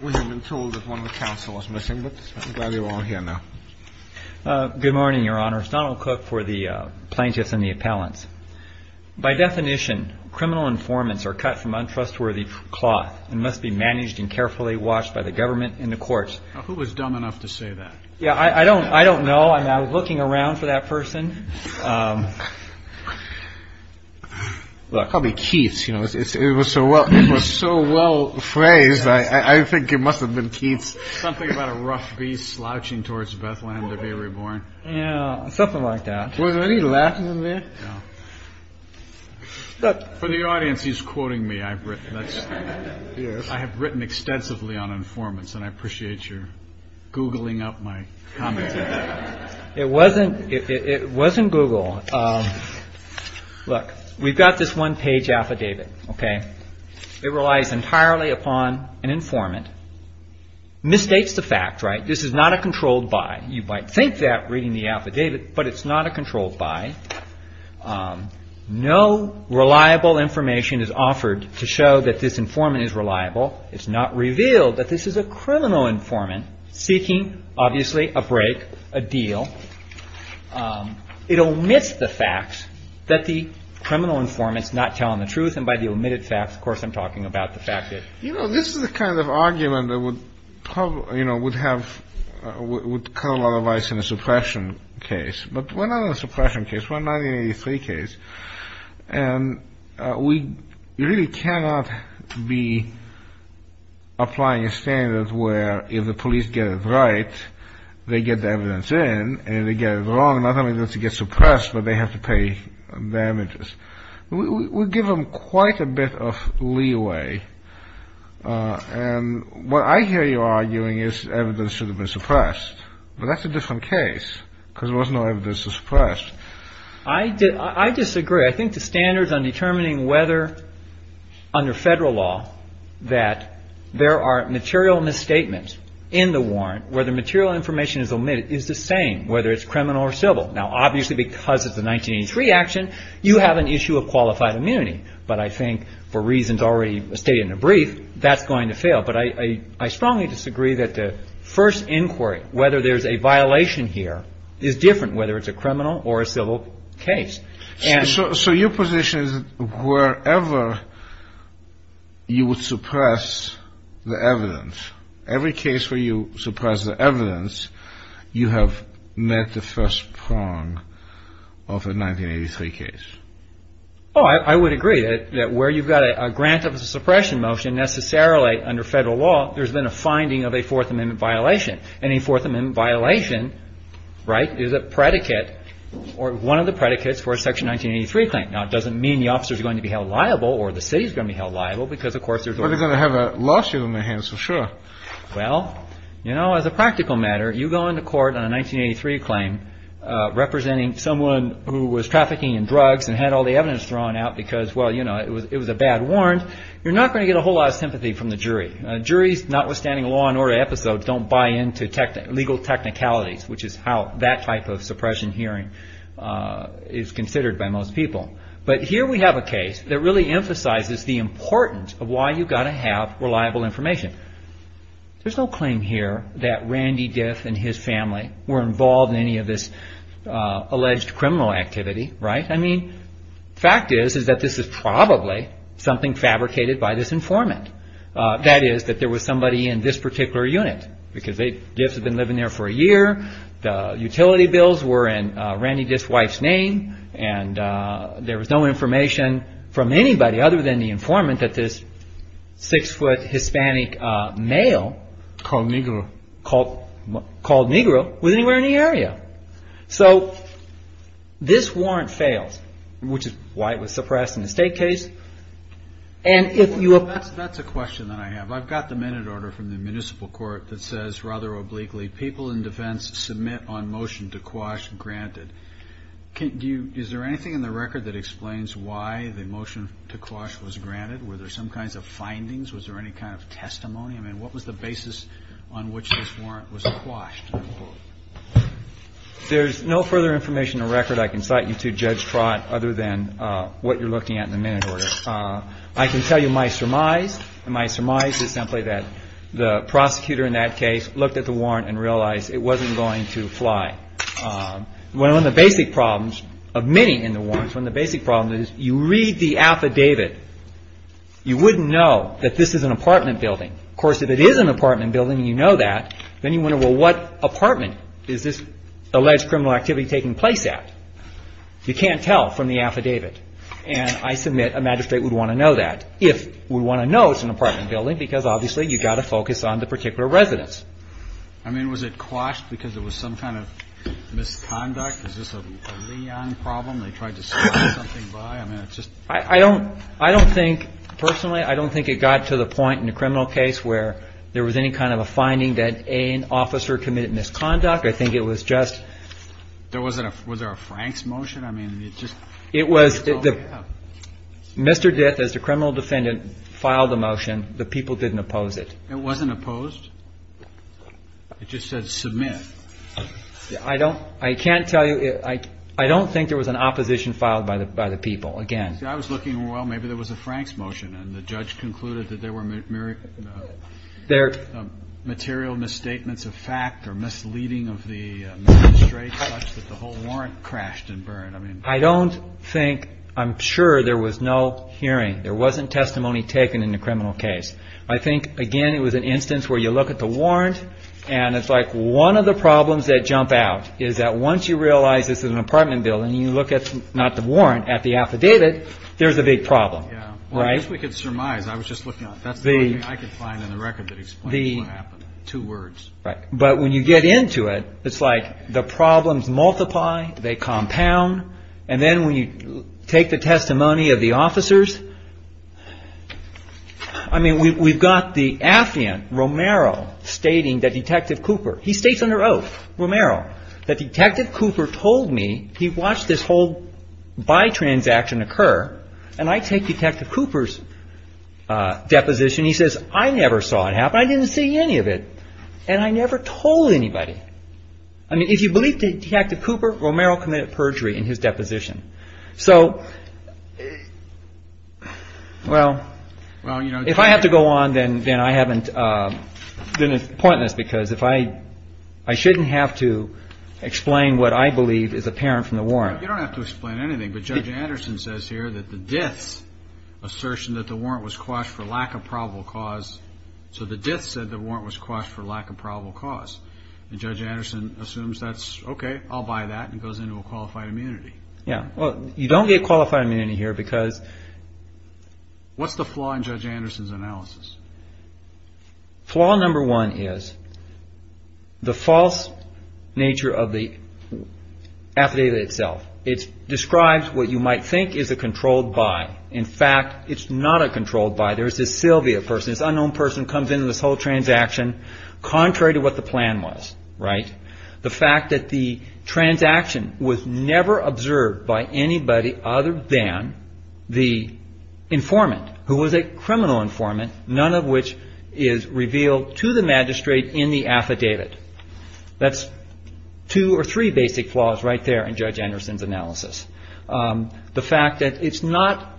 We have been told that one of the counselors is missing, but I'm glad you're all here now. Good morning, Your Honor. It's Donald Cook for the plaintiffs and the appellants. By definition, criminal informants are cut from untrustworthy cloth and must be managed and carefully watched by the government and the courts. Who was dumb enough to say that? I don't know. I was looking around for that person. Probably Keith's, you know, it was so well, so well phrased. I think it must have been Keith's. Something about a rough beast slouching towards Bethlehem to be reborn. Yeah, something like that. Was he laughing at me? For the audience, he's quoting me. I have written extensively on informants and I appreciate your googling up my comments. It wasn't Google. Look, we've got this one page affidavit. It relies entirely upon an informant. Mistakes the fact, right? This is not a controlled buy. You might think that reading the affidavit, but it's not a controlled buy. No reliable information is offered to show that this informant is reliable. It's not revealed that this is a criminal informant seeking, obviously, a break, a deal. It omits the fact that the criminal informant is not telling the truth. And by the omitted facts, of course, I'm talking about the fact that, you know, this is the kind of argument that would probably, you know, would have would cut a lot of ice in a suppression case. But we're not in a suppression case. We're in a 1983 case. And we really cannot be applying a standard where if the police get it right, they get the evidence in. And if they get it wrong, not only does it get suppressed, but they have to pay damages. We give them quite a bit of leeway. And what I hear you arguing is evidence should have been suppressed. But that's a different case because there was no evidence to suppress. I disagree. I think the standards on determining whether under federal law that there are material misstatements in the warrant, where the material information is omitted, is the same, whether it's criminal or civil. Now, obviously, because it's a 1983 action, you have an issue of qualified immunity. But I think for reasons already stated in the brief, that's going to fail. But I strongly disagree that the first inquiry, whether there's a violation here, is different, whether it's a criminal or a civil case. So your position is wherever you would suppress the evidence, every case where you suppress the evidence, you have met the first prong of a 1983 case. Oh, I would agree that where you've got a grant of suppression motion, necessarily under federal law, there's been a finding of a Fourth Amendment violation. And a Fourth Amendment violation, right, is a predicate or one of the predicates for a Section 1983 claim. Now, it doesn't mean the officer is going to be held liable or the city is going to be held liable because, of course, there's already going to have a lawsuit on their hands, for sure. Well, you know, as a practical matter, you go into court on a 1983 claim representing someone who was trafficking in drugs and had all the evidence thrown out because, well, you know, it was a bad warrant. You're not going to get a whole lot of sympathy from the jury. Juries, notwithstanding law and order episodes, don't buy into legal technicalities, which is how that type of suppression hearing is considered by most people. But here we have a case that really emphasizes the importance of why you've got to have reliable information. There's no claim here that Randy Diff and his family were involved in any of this alleged criminal activity, right? I mean, fact is, is that this is probably something fabricated by this informant. That is that there was somebody in this particular unit because Diff had been living there for a year. The utility bills were in Randy Diff's wife's name. And there was no information from anybody other than the informant that this six-foot Hispanic male called Negro was anywhere in the area. So this warrant fails, which is why it was suppressed in the state case. And if you are ---- Roberts, that's a question that I have. I've got the minute order from the municipal court that says rather obliquely, people in defense submit on motion to quash granted. Can you ---- is there anything in the record that explains why the motion to quash was granted? Were there some kinds of findings? Was there any kind of testimony? I mean, what was the basis on which this warrant was quashed? There's no further information in the record I can cite you to, Judge Trott, other than what you're looking at in the minute order. I can tell you my surmise, and my surmise is simply that the prosecutor in that case looked at the warrant and realized it wasn't going to fly. One of the basic problems of many in the warrants, one of the basic problems is you read the affidavit. You wouldn't know that this is an apartment building. Of course, if it is an apartment building and you know that, then you wonder, well, what apartment is this alleged criminal activity taking place at? You can't tell from the affidavit. And I submit a magistrate would want to know that, if we want to know it's an apartment building, because obviously you've got to focus on the particular residence. I mean, was it quashed because it was some kind of misconduct? Is this a Leon problem? They tried to stop something by? I mean, it's just ---- I don't think personally, I don't think it got to the point in a criminal case where there was any kind of a finding that an officer committed misconduct. I think it was just ---- There wasn't a, was there a Frank's motion? I mean, it just ---- It was, Mr. Dith, as the criminal defendant filed the motion, the people didn't oppose it. It wasn't opposed? It just said submit. I don't, I can't tell you, I don't think there was an opposition filed by the people, again. I was looking, well, maybe there was a Frank's motion, and the judge concluded that there were material misstatements of fact or misleading of the magistrate such that the whole warrant crashed and burned. I mean ---- I don't think, I'm sure there was no hearing. There wasn't testimony taken in the criminal case. I think, again, it was an instance where you look at the warrant, and it's like one of the problems that jump out is that once you realize this is an apartment building, you look at, not the warrant, at the affidavit, there's a big problem. Yeah. Right? Well, I guess we could surmise. I was just looking at it. That's the only thing I could find in the record that explains what happened. Two words. But when you get into it, it's like the problems multiply, they compound, and then when you take the testimony of the officers, I mean, we've got the affiant Romero stating that Detective Cooper, he states under oath, Romero, that Detective Cooper told me, he watched this whole buy transaction occur, and I take Detective Cooper's deposition, he says, I never saw it happen, I didn't see any of it, and I never told anybody. I mean, if you believe Detective Cooper, Romero committed perjury in his deposition. So, well, if I have to go on, then I haven't, then it's pointless, because I shouldn't have to explain what I believe is apparent from the warrant. You don't have to explain anything, but Judge Anderson says here that the death's assertion that the warrant was quashed for lack of probable cause, so the death said the warrant was quashed for lack of probable cause, and Judge Anderson assumes that's okay, I'll buy that, and goes into a qualified immunity. Yeah. Well, you don't get qualified immunity here because... What's the flaw in Judge Anderson's analysis? Flaw number one is the false nature of the affidavit itself. It describes what you might think is a controlled buy. In fact, it's not a controlled buy. There's this Sylvia person, this unknown person, comes into this whole transaction contrary to what the plan was, right? The fact that the transaction was never observed by anybody other than the informant, who was a criminal informant, none of which is revealed to the magistrate in the affidavit. That's two or three basic flaws right there in Judge Anderson's analysis. The fact that it's not,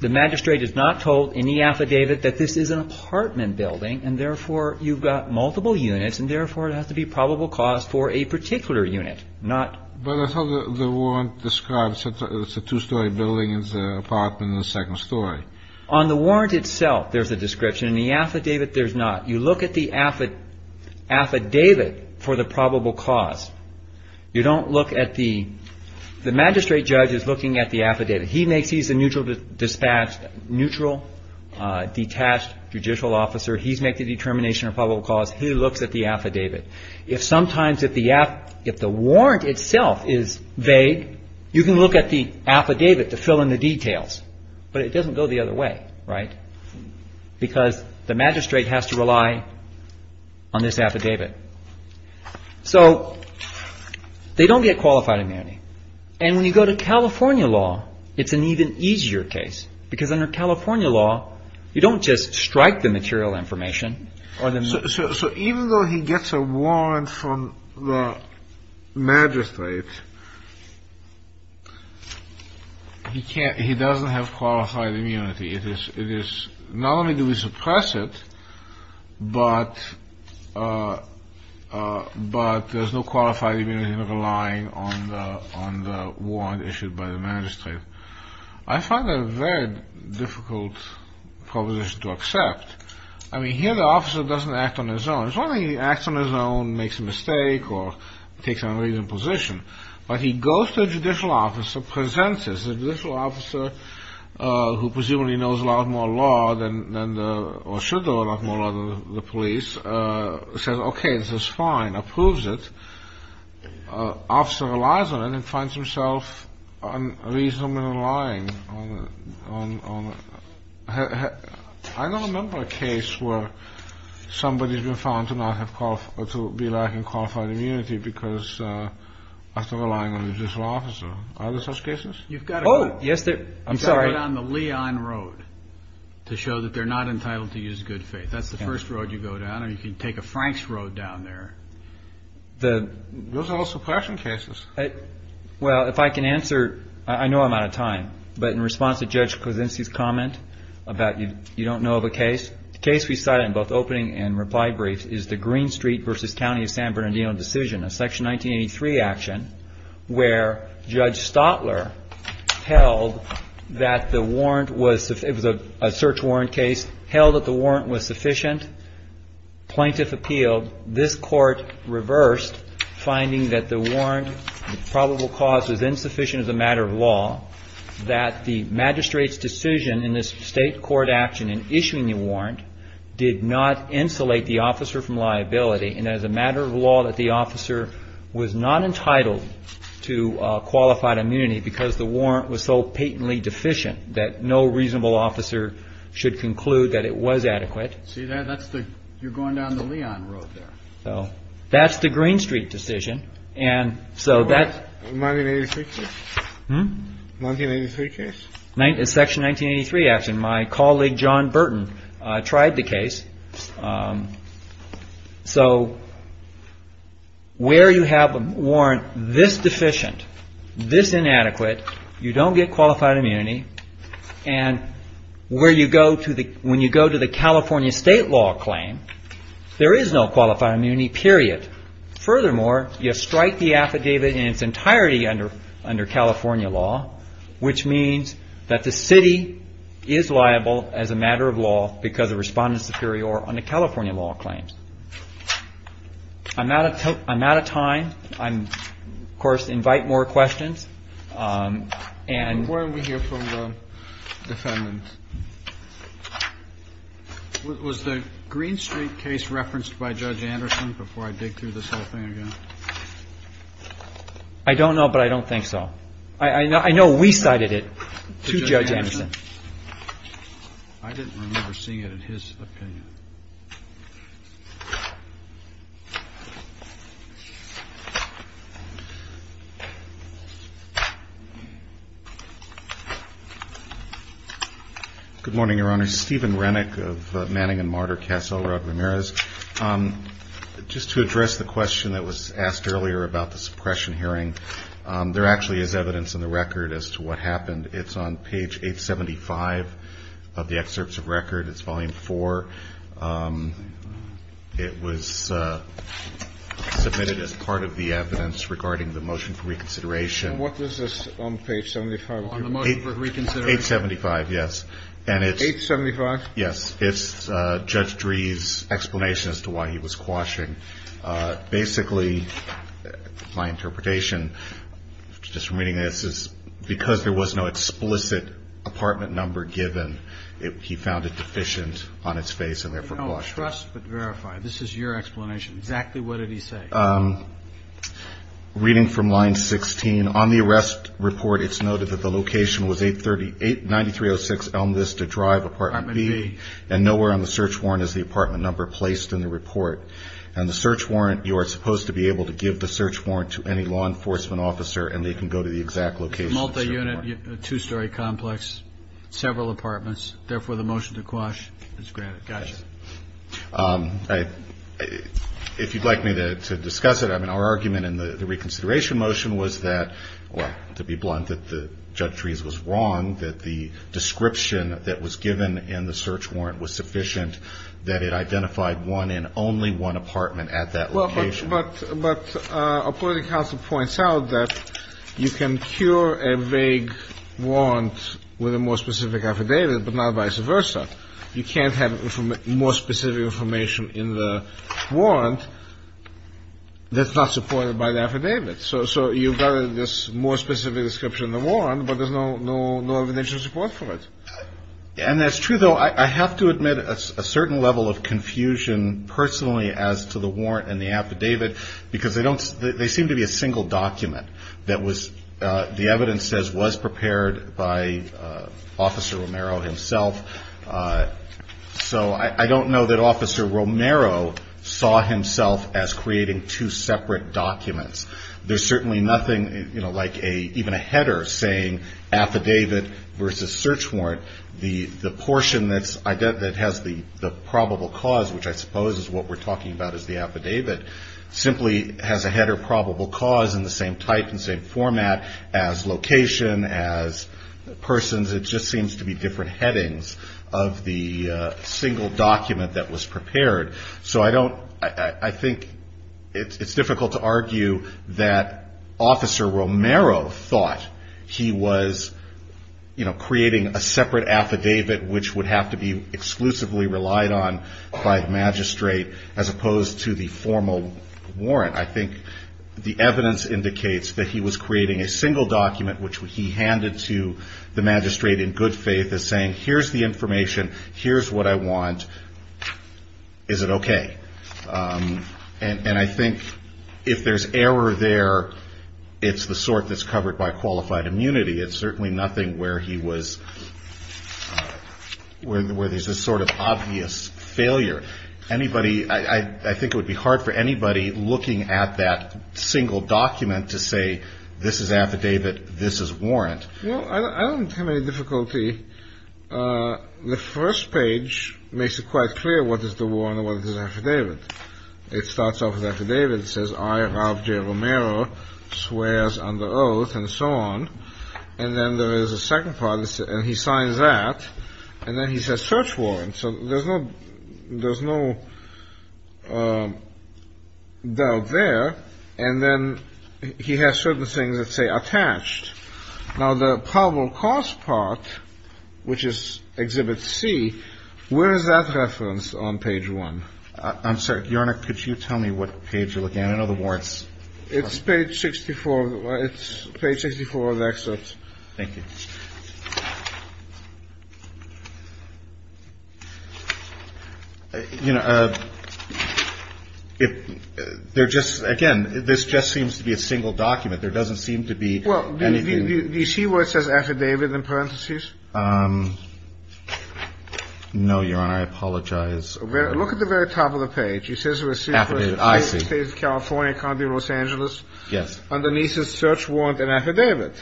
the magistrate is not told in the affidavit that this is an apartment building, and therefore you've got multiple units, and therefore it has to be probable cause for a particular unit, not... But that's how the warrant describes it. It's a two-story building, it's an apartment in the second story. On the warrant itself, there's a description. In the affidavit, there's not. You look at the affidavit for the probable cause. You don't look at the... The magistrate judge is looking at the affidavit. He makes, he's a neutral dispatch, neutral, detached judicial officer. He's making determination of probable cause. He looks at the affidavit. If sometimes if the warrant itself is vague, you can look at the affidavit to fill in the details. But it doesn't go the other way, right? Because the magistrate has to rely on this affidavit. So they don't get qualified immunity. And when you go to California law, it's an even easier case, because under California law, you don't just strike the material information or the... Not only do we suppress it, but there's no qualified immunity. You're relying on the warrant issued by the magistrate. I find that a very difficult proposition to accept. I mean, here the officer doesn't act on his own. It's not like he acts on his own, makes a mistake, or takes an unreasonable position. But he goes to a judicial officer, presents as a judicial officer, who presumably knows a lot more law than the... or should know a lot more law than the police, says, okay, this is fine, approves it. Officer relies on it and finds himself unreasonably relying on... I don't remember a case where somebody's been found to be lacking qualified immunity because of relying on a judicial officer. Are there such cases? You've got to go down the Leon Road to show that they're not entitled to use good faith. That's the first road you go down. Or you can take a Franks Road down there. Those are all suppression cases. Well, if I can answer... I know I'm out of time. But in response to Judge Krasinski's comment about you don't know of a case, the case we cited in both opening and reply briefs is the Green Street v. County of San Bernardino decision, a Section 1983 action, where Judge Stotler held that the warrant was... it was a search warrant case, held that the warrant was sufficient. Plaintiff appealed. This court reversed, finding that the warrant, probable cause, was insufficient as a matter of law, that the magistrate's decision in this state court action in issuing the warrant did not insulate the officer from liability and as a matter of law that the officer was not entitled to qualified immunity because the warrant was so patently deficient that no reasonable officer should conclude that it was adequate. See that? That's the... you're going down the Leon Road there. That's the Green Street decision. And so that... 1983 case? Hm? 1983 case? Section 1983 action. My colleague, John Burton, tried the case. So where you have a warrant this deficient, this inadequate, you don't get qualified immunity, and where you go to the... when you go to the California state law claim, there is no qualified immunity, period. Furthermore, you strike the affidavit in its entirety under California law, which means that the city is liable as a matter of law because the respondent is superior under California law claims. I'm out of time. I, of course, invite more questions. Before we hear from the defendants, was the Green Street case referenced by Judge Anderson before I dig through this whole thing again? I don't know, but I don't think so. I know we cited it to Judge Anderson. I didn't remember seeing it in his opinion. Good morning, Your Honor. Stephen Renick of Manning and Martyr Castle, Rod Ramirez. Just to address the question that was asked earlier about the suppression hearing, there actually is evidence in the record as to what happened. It's on page 875 of the excerpts of record. It's volume 4. It was submitted as part of the evidence regarding the motion for reconsideration. What was this on page 75? On the motion for reconsideration. 875, yes. And it's... 875? Yes. It's Judge Dreeh's explanation as to why he was quashing. Basically, my interpretation, just from reading this, is because there was no explicit apartment number given, he found it deficient on its face and therefore quashed it. We don't trust, but verify. This is your explanation. Exactly what did he say? Reading from line 16, on the arrest report it's noted that the location was 838, 9306 Elmless to Drive, and nowhere on the search warrant is the apartment number placed in the report. And the search warrant, you are supposed to be able to give the search warrant to any law enforcement officer and they can go to the exact location. It's a multi-unit, two-story complex, several apartments, therefore the motion to quash is granted. Got you. If you'd like me to discuss it, our argument in the reconsideration motion was that, to be blunt, that Judge Dreeh's was wrong, that the description that was given in the search warrant was sufficient, and that it identified one and only one apartment at that location. Well, but a political counsel points out that you can cure a vague warrant with a more specific affidavit, but not vice versa. You can't have more specific information in the warrant that's not supported by the affidavit. So you've got this more specific description in the warrant, but there's no evidential support for it. And that's true, though. I have to admit a certain level of confusion, personally, as to the warrant and the affidavit, because they seem to be a single document that the evidence says was prepared by Officer Romero himself. So I don't know that Officer Romero saw himself as creating two separate documents. There's certainly nothing, you know, like even a header saying affidavit versus search warrant. The portion that has the probable cause, which I suppose is what we're talking about as the affidavit, simply has a header probable cause in the same type and same format as location, as persons. It just seems to be different headings of the single document that was prepared. So I think it's difficult to argue that Officer Romero thought he was, you know, creating a separate affidavit, which would have to be exclusively relied on by the magistrate, as opposed to the formal warrant. I think the evidence indicates that he was creating a single document, which he handed to the magistrate in good faith as saying, here's the information, here's what I want, is it okay? And I think if there's error there, it's the sort that's covered by qualified immunity. It's certainly nothing where there's a sort of obvious failure. I think it would be hard for anybody looking at that single document to say this is affidavit, this is warrant. Well, I don't have any difficulty. The first page makes it quite clear what is the warrant and what is the affidavit. It starts off with affidavit. It says, I, Ralph J. Romero, swears under oath, and so on. And then there is a second part, and he signs that, and then he says search warrant. So there's no doubt there. And then he has certain things that say attached. Now, the probable cause part, which is Exhibit C, where is that referenced on page one? I'm sorry, Your Honor, could you tell me what page you're looking at? I know the warrants. It's page 64. It's page 64 of the excerpt. Thank you. You know, there just, again, this just seems to be a single document. There doesn't seem to be anything. Well, do you see where it says affidavit in parentheses? No, Your Honor, I apologize. Look at the very top of the page. It says it was received by the State of California, County of Los Angeles. Yes. Underneath is search warrant and affidavit.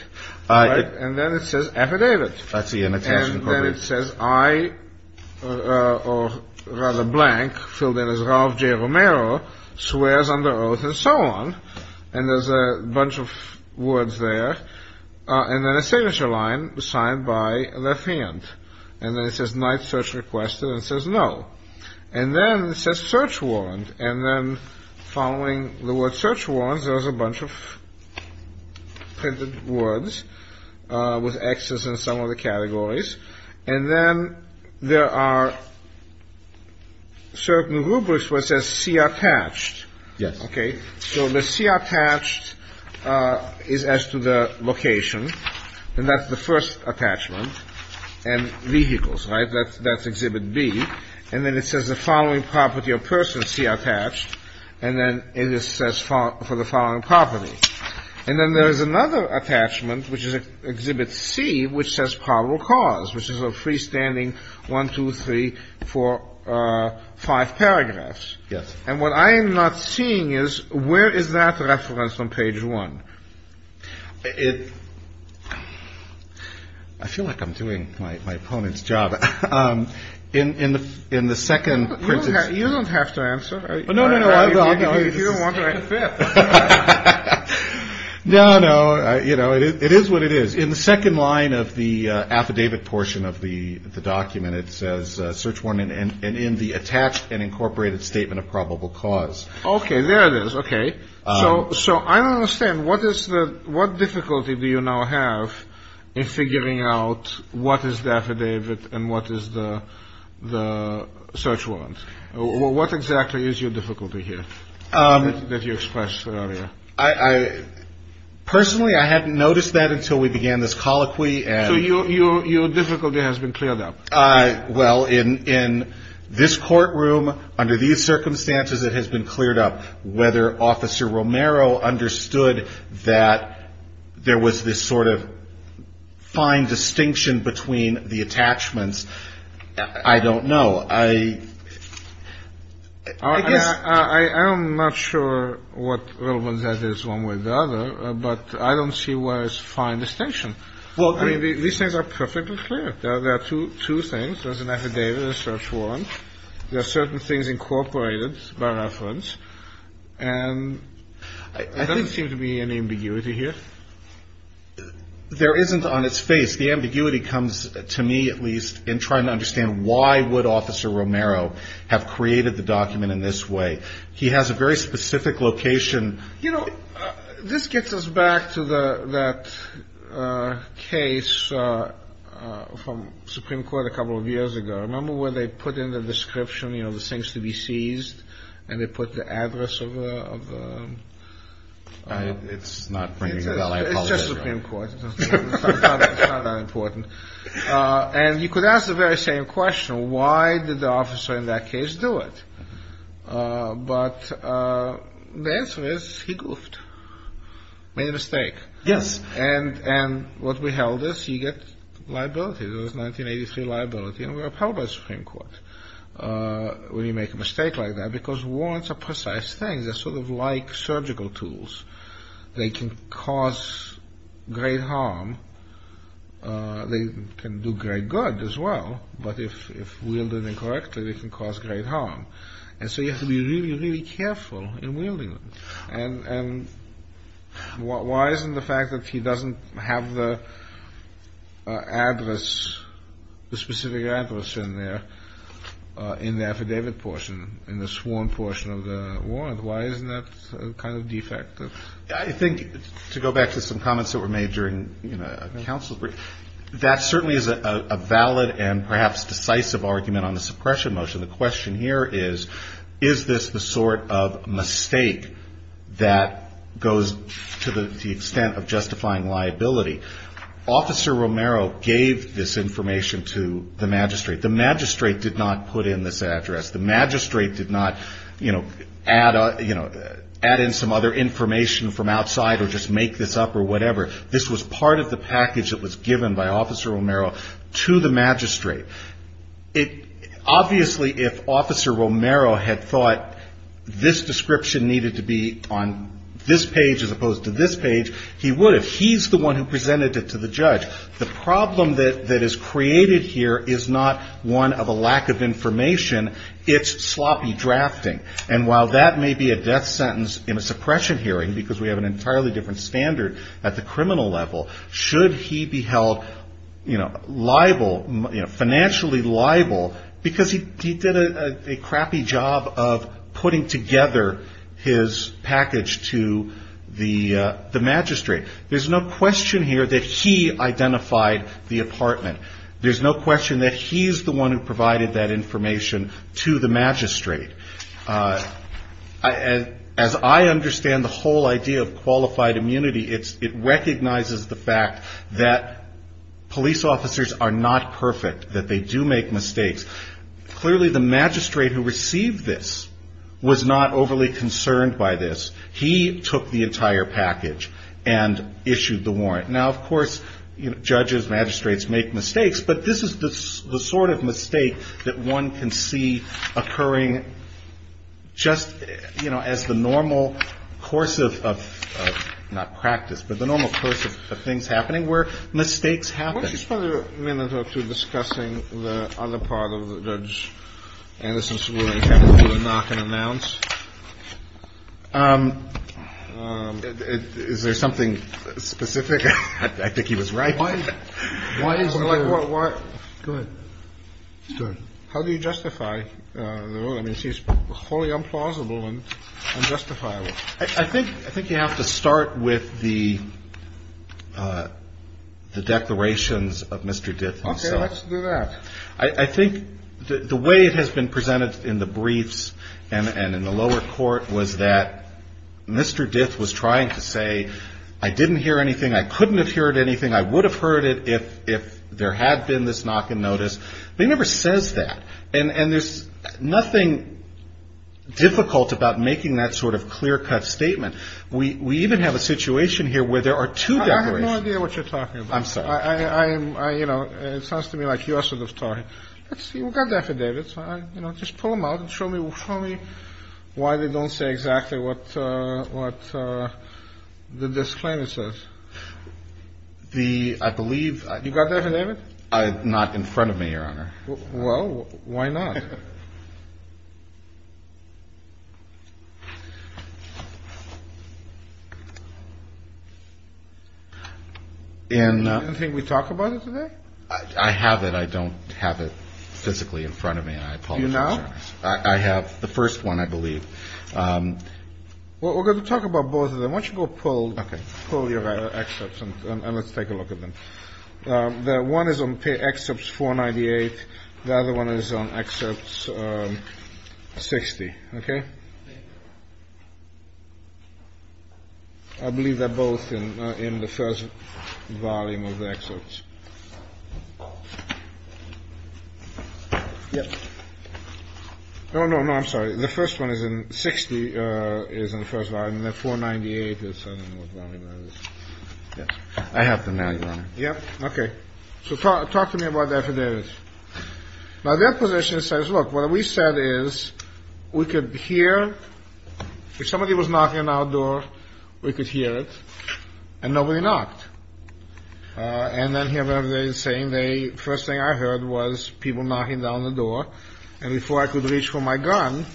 And then it says affidavit. And then it says, I, or rather blank, filled in as Ralph J. Romero, swears under oath, and so on. And there's a bunch of words there. And then a signature line signed by the defendant. And then it says not search requested. And it says no. And then it says search warrant. And then following the word search warrant, there's a bunch of printed words with Xs in some of the categories. And then there are certain rubrics where it says C attached. Yes. Okay. So the C attached is as to the location. And that's the first attachment. Yes. And then there's another attachment, which is exhibit C, which says probable cause, which is a freestanding one, two, three, four, five paragraphs. Yes. And what I am not seeing is where is that reference on page 1? I feel like I'm doing my opponent's job. In the second printed. You don't have to answer. No, no, no. You don't want to answer. No, no. You know, it is what it is. In the second line of the affidavit portion of the document, it says search warrant. And in the attached and incorporated statement of probable cause. Okay. There it is. Okay. So I don't understand. What difficulty do you now have in figuring out what is the affidavit and what is the search warrant? What exactly is your difficulty here that you expressed earlier? Personally, I hadn't noticed that until we began this colloquy. So your difficulty has been cleared up. Well, in this courtroom, under these circumstances, it has been cleared up whether Officer Romero understood that there was this sort of fine distinction between the attachments. I don't know. I guess. I am not sure what relevance that is one way or the other. But I don't see where is fine distinction. I mean, these things are perfectly clear. There are two things. There is an affidavit and a search warrant. There are certain things incorporated by reference. And there doesn't seem to be any ambiguity here. There isn't on its face. The ambiguity comes, to me at least, in trying to understand why would Officer Romero have created the document in this way. He has a very specific location. You know, this gets us back to that case from Supreme Court a couple of years ago. Remember when they put in the description, you know, the things to be seized? And they put the address of the. It's not. It's just Supreme Court. It's not that important. And you could ask the very same question. Why did the officer in that case do it? But the answer is he goofed. Made a mistake. Yes. And what we held is he gets liability. It was 1983 liability. And we're appalled by the Supreme Court when you make a mistake like that because warrants are precise things. They're sort of like surgical tools. They can cause great harm. They can do great good as well. But if wielded incorrectly, they can cause great harm. And so you have to be really, really careful in wielding them. And why isn't the fact that he doesn't have the address, the specific address in there in the affidavit portion, in the sworn portion of the warrant, why isn't that kind of defective? I think to go back to some comments that were made during counsel's brief, that certainly is a valid and perhaps decisive argument on the suppression motion. The question here is, is this the sort of mistake that goes to the extent of justifying liability? Officer Romero gave this information to the magistrate. The magistrate did not put in this address. The magistrate did not, you know, add in some other information from outside or just make this up or whatever. This was part of the package that was given by Officer Romero to the magistrate. Obviously, if Officer Romero had thought this description needed to be on this page as opposed to this page, he would have. He's the one who presented it to the judge. The problem that is created here is not one of a lack of information. It's sloppy drafting. And while that may be a death sentence in a suppression hearing, because we have an entirely different standard at the criminal level, should he be held liable, financially liable, because he did a crappy job of putting together his package to the magistrate. There's no question here that he identified the apartment. There's no question that he's the one who provided that information to the magistrate. As I understand the whole idea of qualified immunity, it recognizes the fact that police officers are not perfect, that they do make mistakes. Clearly, the magistrate who received this was not overly concerned by this. He took the entire package and issued the warrant. Now, of course, judges, magistrates make mistakes. But this is the sort of mistake that one can see occurring just, you know, as the normal course of, not practice, but the normal course of things happening where mistakes happen. Kennedy. I want to spend a minute or two discussing the other part of the Judge Anderson's ruling, which I'm not going to announce. Is there something specific? I think he was right. Why is there? Go ahead. Go ahead. How do you justify the ruling? It seems wholly implausible and unjustifiable. I think you have to start with the declarations of Mr. Dith himself. Okay. Let's do that. I think the way it has been presented in the briefs and in the lower court was that Mr. Dith was trying to say, I didn't hear anything, I couldn't have heard anything, I would have heard it if there had been this knock and notice. They never says that. And there's nothing difficult about making that sort of clear-cut statement. We even have a situation here where there are two declarations. I have no idea what you're talking about. I'm sorry. You know, it sounds to me like you are sort of talking. Let's see. We've got the affidavits. Just pull them out and show me why they don't say exactly what the disclaimer says. I believe. You've got the affidavit? Not in front of me, Your Honor. Well, why not? You don't think we talk about it today? I have it. I don't have it physically in front of me. Do you now? I have the first one, I believe. Well, we're going to talk about both of them. Why don't you go pull your excerpts and let's take a look at them. The one is on excerpts 498. The other one is on excerpts 60. OK. I believe they're both in the first volume of the excerpts. Yes. Oh, no, no. I'm sorry. The first one is in 60 is in the first line. And then 498 is. Yes. I have them now, Your Honor. Yeah. OK. So talk to me about the affidavit. Now, that position says, look, what we said is we could hear if somebody was knocking on our door, we could hear it. And nobody knocked. And then here they are saying they first thing I heard was people knocking down the door. And before I could reach for my gun,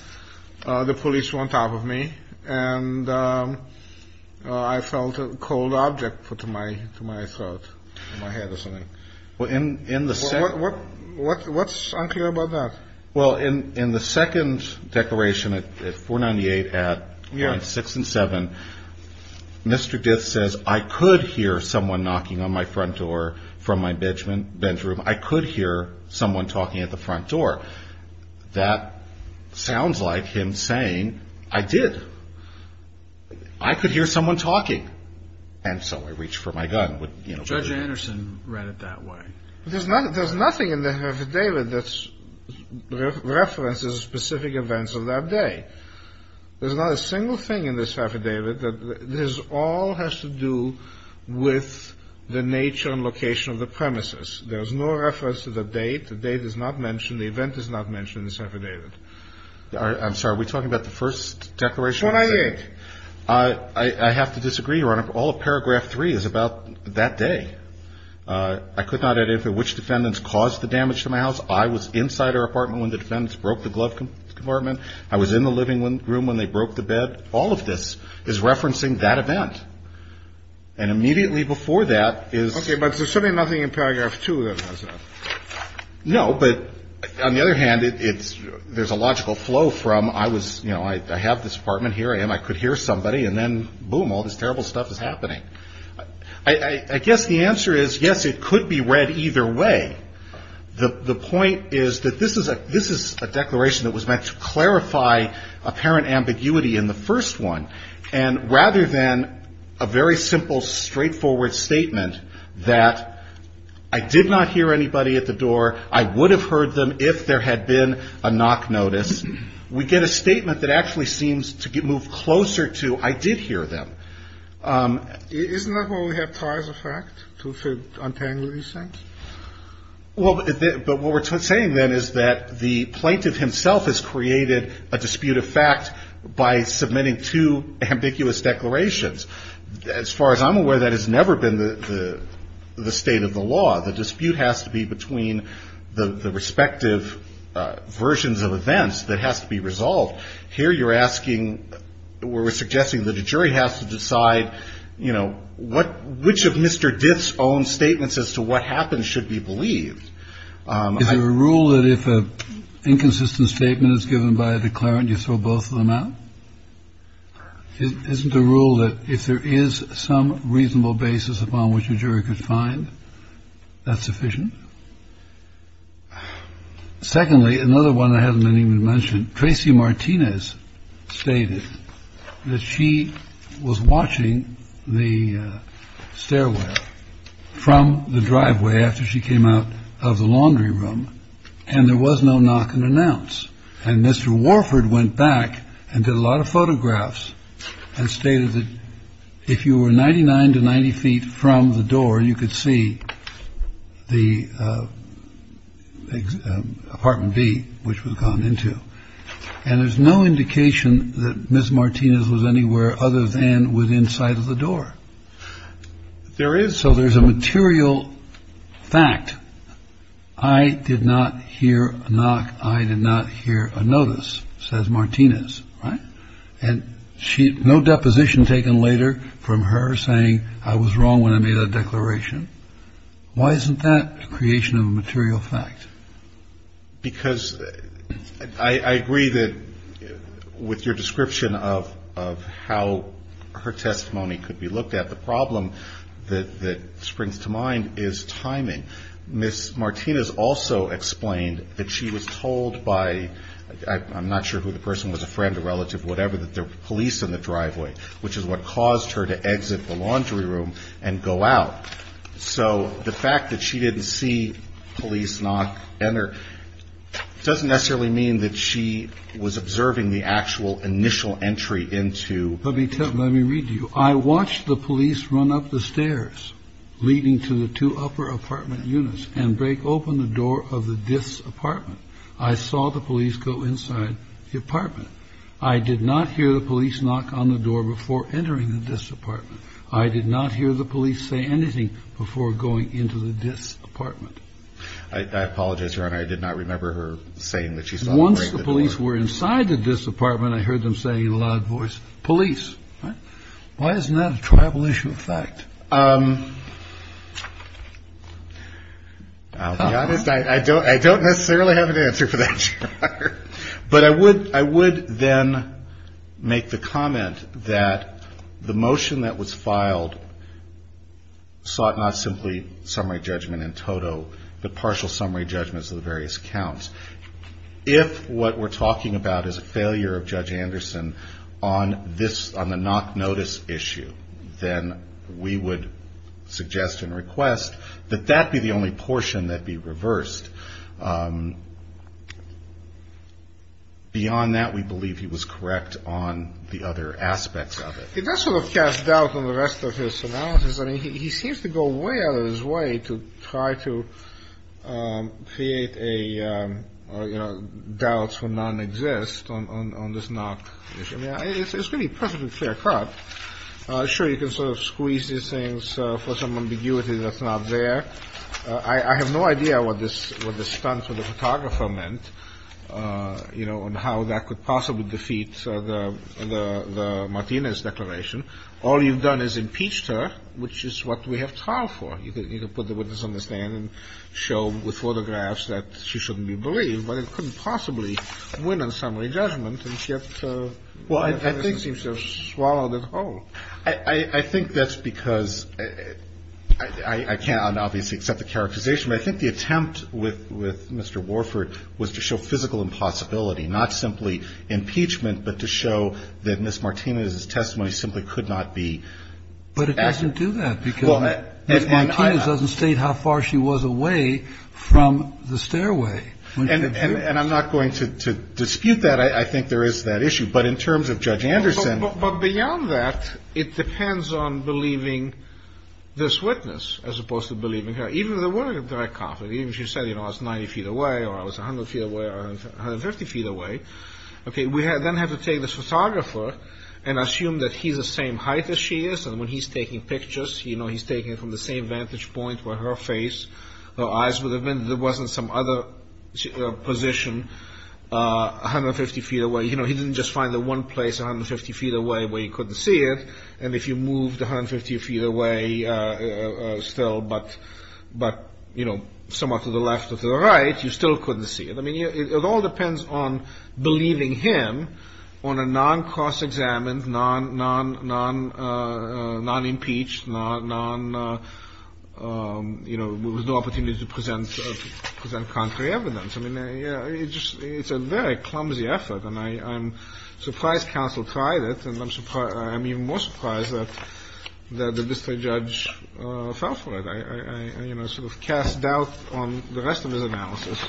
the police were on top of me. And I felt a cold object put to my to my throat in my head or something. Well, in in the Senate. What's unclear about that? Well, in in the second declaration at 498 at six and seven, Mr. Gibbs says, I could hear someone knocking on my front door from my bedroom. I could hear someone talking at the front door. That sounds like him saying I did. I could hear someone talking. And so I reached for my gun. Judge Anderson read it that way. There's not there's nothing in the affidavit that's references specific events of that day. There's not a single thing in this affidavit that this all has to do with the nature and location of the premises. There's no reference to the date. The date is not mentioned. The event is not mentioned in this affidavit. I'm sorry. We're talking about the first declaration. I think I have to disagree. Your Honor. All of paragraph three is about that day. I could not identify which defendants caused the damage to my house. I was inside our apartment when the defendants broke the glove compartment. I was in the living room when they broke the bed. All of this is referencing that event. And immediately before that is OK. No, but on the other hand, it's there's a logical flow from I was, you know, I have this apartment here. And I could hear somebody. And then, boom, all this terrible stuff is happening. I guess the answer is, yes, it could be read either way. The point is that this is a this is a declaration that was meant to clarify apparent ambiguity in the first one. And rather than a very simple, straightforward statement that I did not hear anybody at the door, I would have heard them if there had been a knock notice. We get a statement that actually seems to get moved closer to I did hear them. Isn't that what we have prior to fact to untangle these things? Well, but what we're saying then is that the plaintiff himself has created a dispute of fact by submitting two ambiguous declarations. As far as I'm aware, that has never been the the state of the law. The dispute has to be between the respective versions of events that has to be resolved. Here you're asking where we're suggesting that a jury has to decide, you know, what which of Mr. Diff's own statements as to what happened should be believed. Is there a rule that if an inconsistent statement is given by a declarant, you throw both of them out? Isn't the rule that if there is some reasonable basis upon which a jury could find that sufficient? Secondly, another one I haven't even mentioned. Tracy Martinez stated that she was watching the stairway from the driveway after she came out of the laundry room and there was no knock and announce. And Mr. Warford went back and did a lot of photographs and stated that if you were ninety nine to 90 feet from the door, you could see the apartment B which was gone into. And there's no indication that Miss Martinez was anywhere other than within sight of the door. There is. So there's a material fact. I did not hear a knock. I did not hear a notice, says Martinez. And she no deposition taken later from her saying I was wrong when I made a declaration. Why isn't that creation of material fact? Because I agree that with your description of of how her testimony could be looked at. The problem that that springs to mind is timing. Miss Martinez also explained that she was told by I'm not sure who the person was, a friend, a relative, whatever, that the police in the driveway, which is what caused her to exit the laundry room and go out. So the fact that she didn't see police not enter doesn't necessarily mean that she was observing the actual initial entry into. Let me tell you, let me read you. I watched the police run up the stairs leading to the two upper apartment units and break open the door of this apartment. I saw the police go inside the apartment. I did not hear the police knock on the door before entering this apartment. I did not hear the police say anything before going into this apartment. I apologize, Your Honor, I did not remember her saying that she saw the police were inside this apartment. I heard them say in a loud voice police. Why isn't that a tribal issue of fact? I'll be honest. I don't I don't necessarily have an answer for that. But I would I would then make the comment that the motion that was filed. Sought not simply summary judgment in total, but partial summary judgments of the various counts. If what we're talking about is a failure of Judge Anderson on this on the knock notice issue, then we would suggest and request that that be the only portion that be reversed. Beyond that, we believe he was correct on the other aspects of it. He does sort of cast doubt on the rest of his analysis. I mean, he seems to go way out of his way to try to create a doubt for nonexistence on this knock. I mean, it's going to be perfectly clear cut. Sure, you can sort of squeeze these things for some ambiguity that's not there. I have no idea what this what the stunt for the photographer meant, you know, and how that could possibly defeat the Martinez declaration. All you've done is impeached her, which is what we have time for. You can put the witness on the stand and show with photographs that she shouldn't be believed, but it couldn't possibly win on summary judgment. And yet, well, I think seems to have swallowed it whole. I think that's because I can't obviously accept the characterization, but I think the attempt with Mr. Warford was to show physical impossibility, not simply impeachment, but to show that Ms. Martinez's testimony simply could not be. But it doesn't do that because Ms. Martinez doesn't state how far she was away from the stairway. And I'm not going to dispute that. I think there is that issue. But in terms of Judge Anderson. But beyond that, it depends on believing this witness as opposed to believing her. Even if there were a direct conflict, even if she said, you know, I was 90 feet away or I was 100 feet away or 150 feet away. Okay, we then have to take this photographer and assume that he's the same height as she is and when he's taking pictures, you know, he's taking it from the same vantage point where her face, her eyes would have been. There wasn't some other position 150 feet away. You know, he didn't just find the one place 150 feet away where he couldn't see it. And if you moved 150 feet away still but, you know, somewhat to the left or to the right, you still couldn't see it. I mean, it all depends on believing him on a non-cross-examined, non-impeached, you know, with no opportunity to present contrary evidence. I mean, it's a very clumsy effort and I'm surprised counsel tried it and I'm even more surprised that the district judge fell for it. I, you know, sort of cast doubt on the rest of his analysis.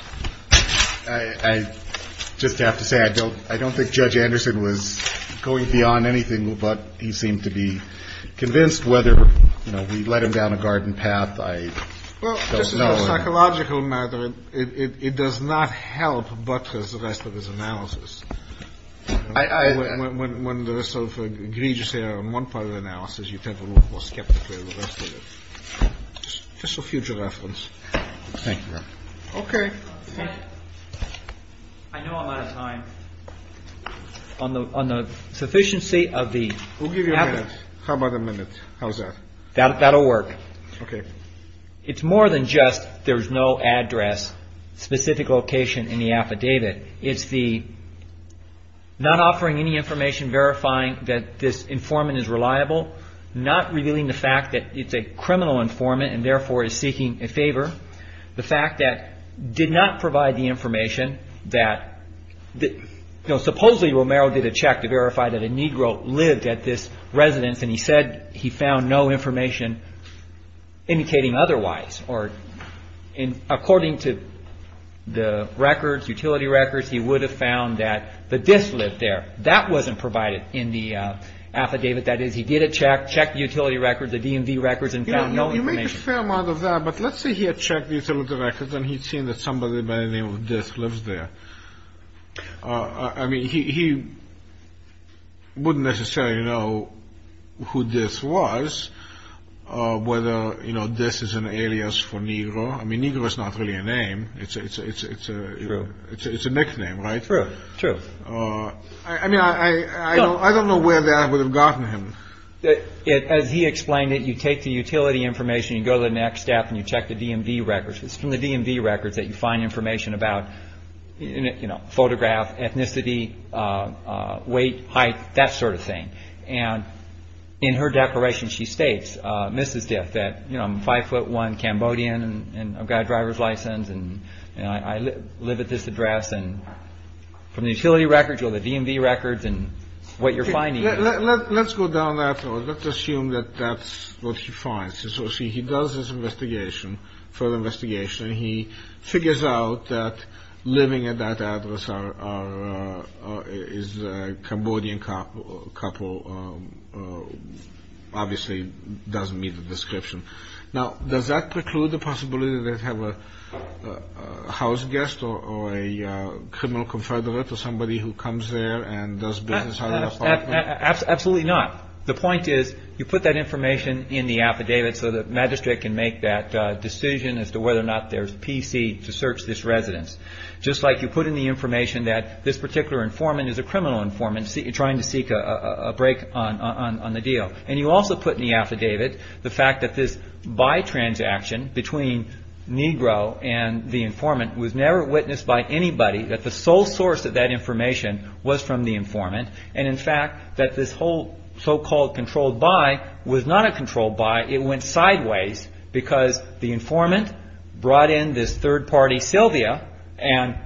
I just have to say I don't think Judge Anderson was going beyond anything but he seemed to be convinced whether, you know, we let him down a garden path. I don't know. Psychological matter. It does not help. But as the rest of his analysis. I when there is self egregious error in one part of the analysis, you tend to look more skeptically to the rest of it. Just for future reference. Thank you. OK. I know I'm out of time on the on the sufficiency of the. We'll give you a minute. How about a minute. How's that. That'll work. OK. It's more than just there's no address specific location in the affidavit. It's the not offering any information verifying that this informant is reliable, not revealing the fact that it's a criminal informant and therefore is seeking a favor. The fact that did not provide the information that supposedly Romero did a check to verify that a Negro lived at this residence. And he said he found no information indicating otherwise. Or according to the records, utility records, he would have found that the disk lived there. That wasn't provided in the affidavit. That is, he did a check. Check the utility records, the DMV records and found no information. You make a fair amount of that. But let's say he had checked the utility records and he'd seen that somebody by the name of this lives there. I mean, he wouldn't necessarily know who this was, whether, you know, this is an alias for Negro. I mean, Negro is not really a name. It's a it's a it's a it's a nickname. Right. True. I mean, I don't know where that would have gotten him. As he explained it, you take the utility information, you go to the next step and you check the DMV records. It's from the DMV records that you find information about, you know, photograph, ethnicity, weight, height, that sort of thing. And in her declaration, she states, Mrs. Diff, that, you know, I'm five foot one Cambodian and I've got a driver's license. And I live at this address. And from the utility records or the DMV records and what you're finding. Let's go down that road. Let's assume that that's what he finds. So he does this investigation for the investigation. He figures out that living at that address is a Cambodian cop. A couple obviously doesn't meet the description. Now, does that preclude the possibility that they have a house guest or a criminal confederate or somebody who comes there and does business? Absolutely not. The point is, you put that information in the affidavit so the magistrate can make that decision as to whether or not there's PC to search this residence. Just like you put in the information that this particular informant is a criminal informant trying to seek a break on the deal. And you also put in the affidavit the fact that this buy transaction between Negro and the informant was never witnessed by anybody. That the sole source of that information was from the informant. And, in fact, that this whole so-called controlled buy was not a controlled buy. It went sideways because the informant brought in this third-party Sylvia and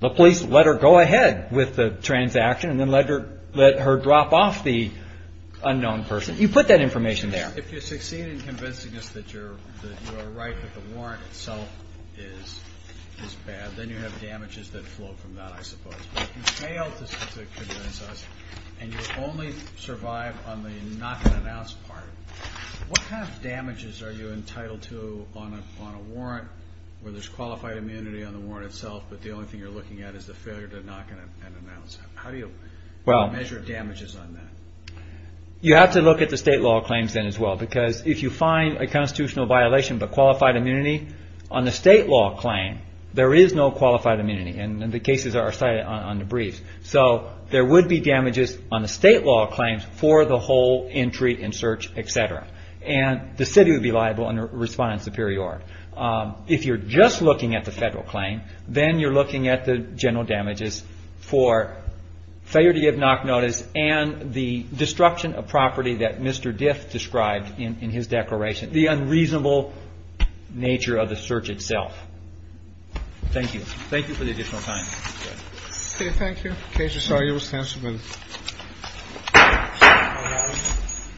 the police let her go ahead with the transaction and then let her drop off the unknown person. You put that information there. If you succeed in convincing us that you're right, that the warrant itself is bad, then you have damages that flow from that, I suppose. If you fail to convince us and you only survive on the not-going-to-announce part, what kind of damages are you entitled to on a warrant where there's qualified immunity on the warrant itself, but the only thing you're looking at is the failure to knock and announce? How do you measure damages on that? You have to look at the state law claims then as well. Because if you find a constitutional violation of the qualified immunity on the state law claim, there is no qualified immunity. And the cases are cited on the briefs. So there would be damages on the state law claims for the whole entry and search, et cetera. And the city would be liable and respond in superiority. If you're just looking at the federal claim, then you're looking at the general damages for failure to give knock notice and the destruction of property that Mr. Diff described in his declaration, the unreasonable nature of the search itself. Thank you. Thank you for the additional time. Okay. Thank you. Okay. I'm sorry. It was time to move. All right.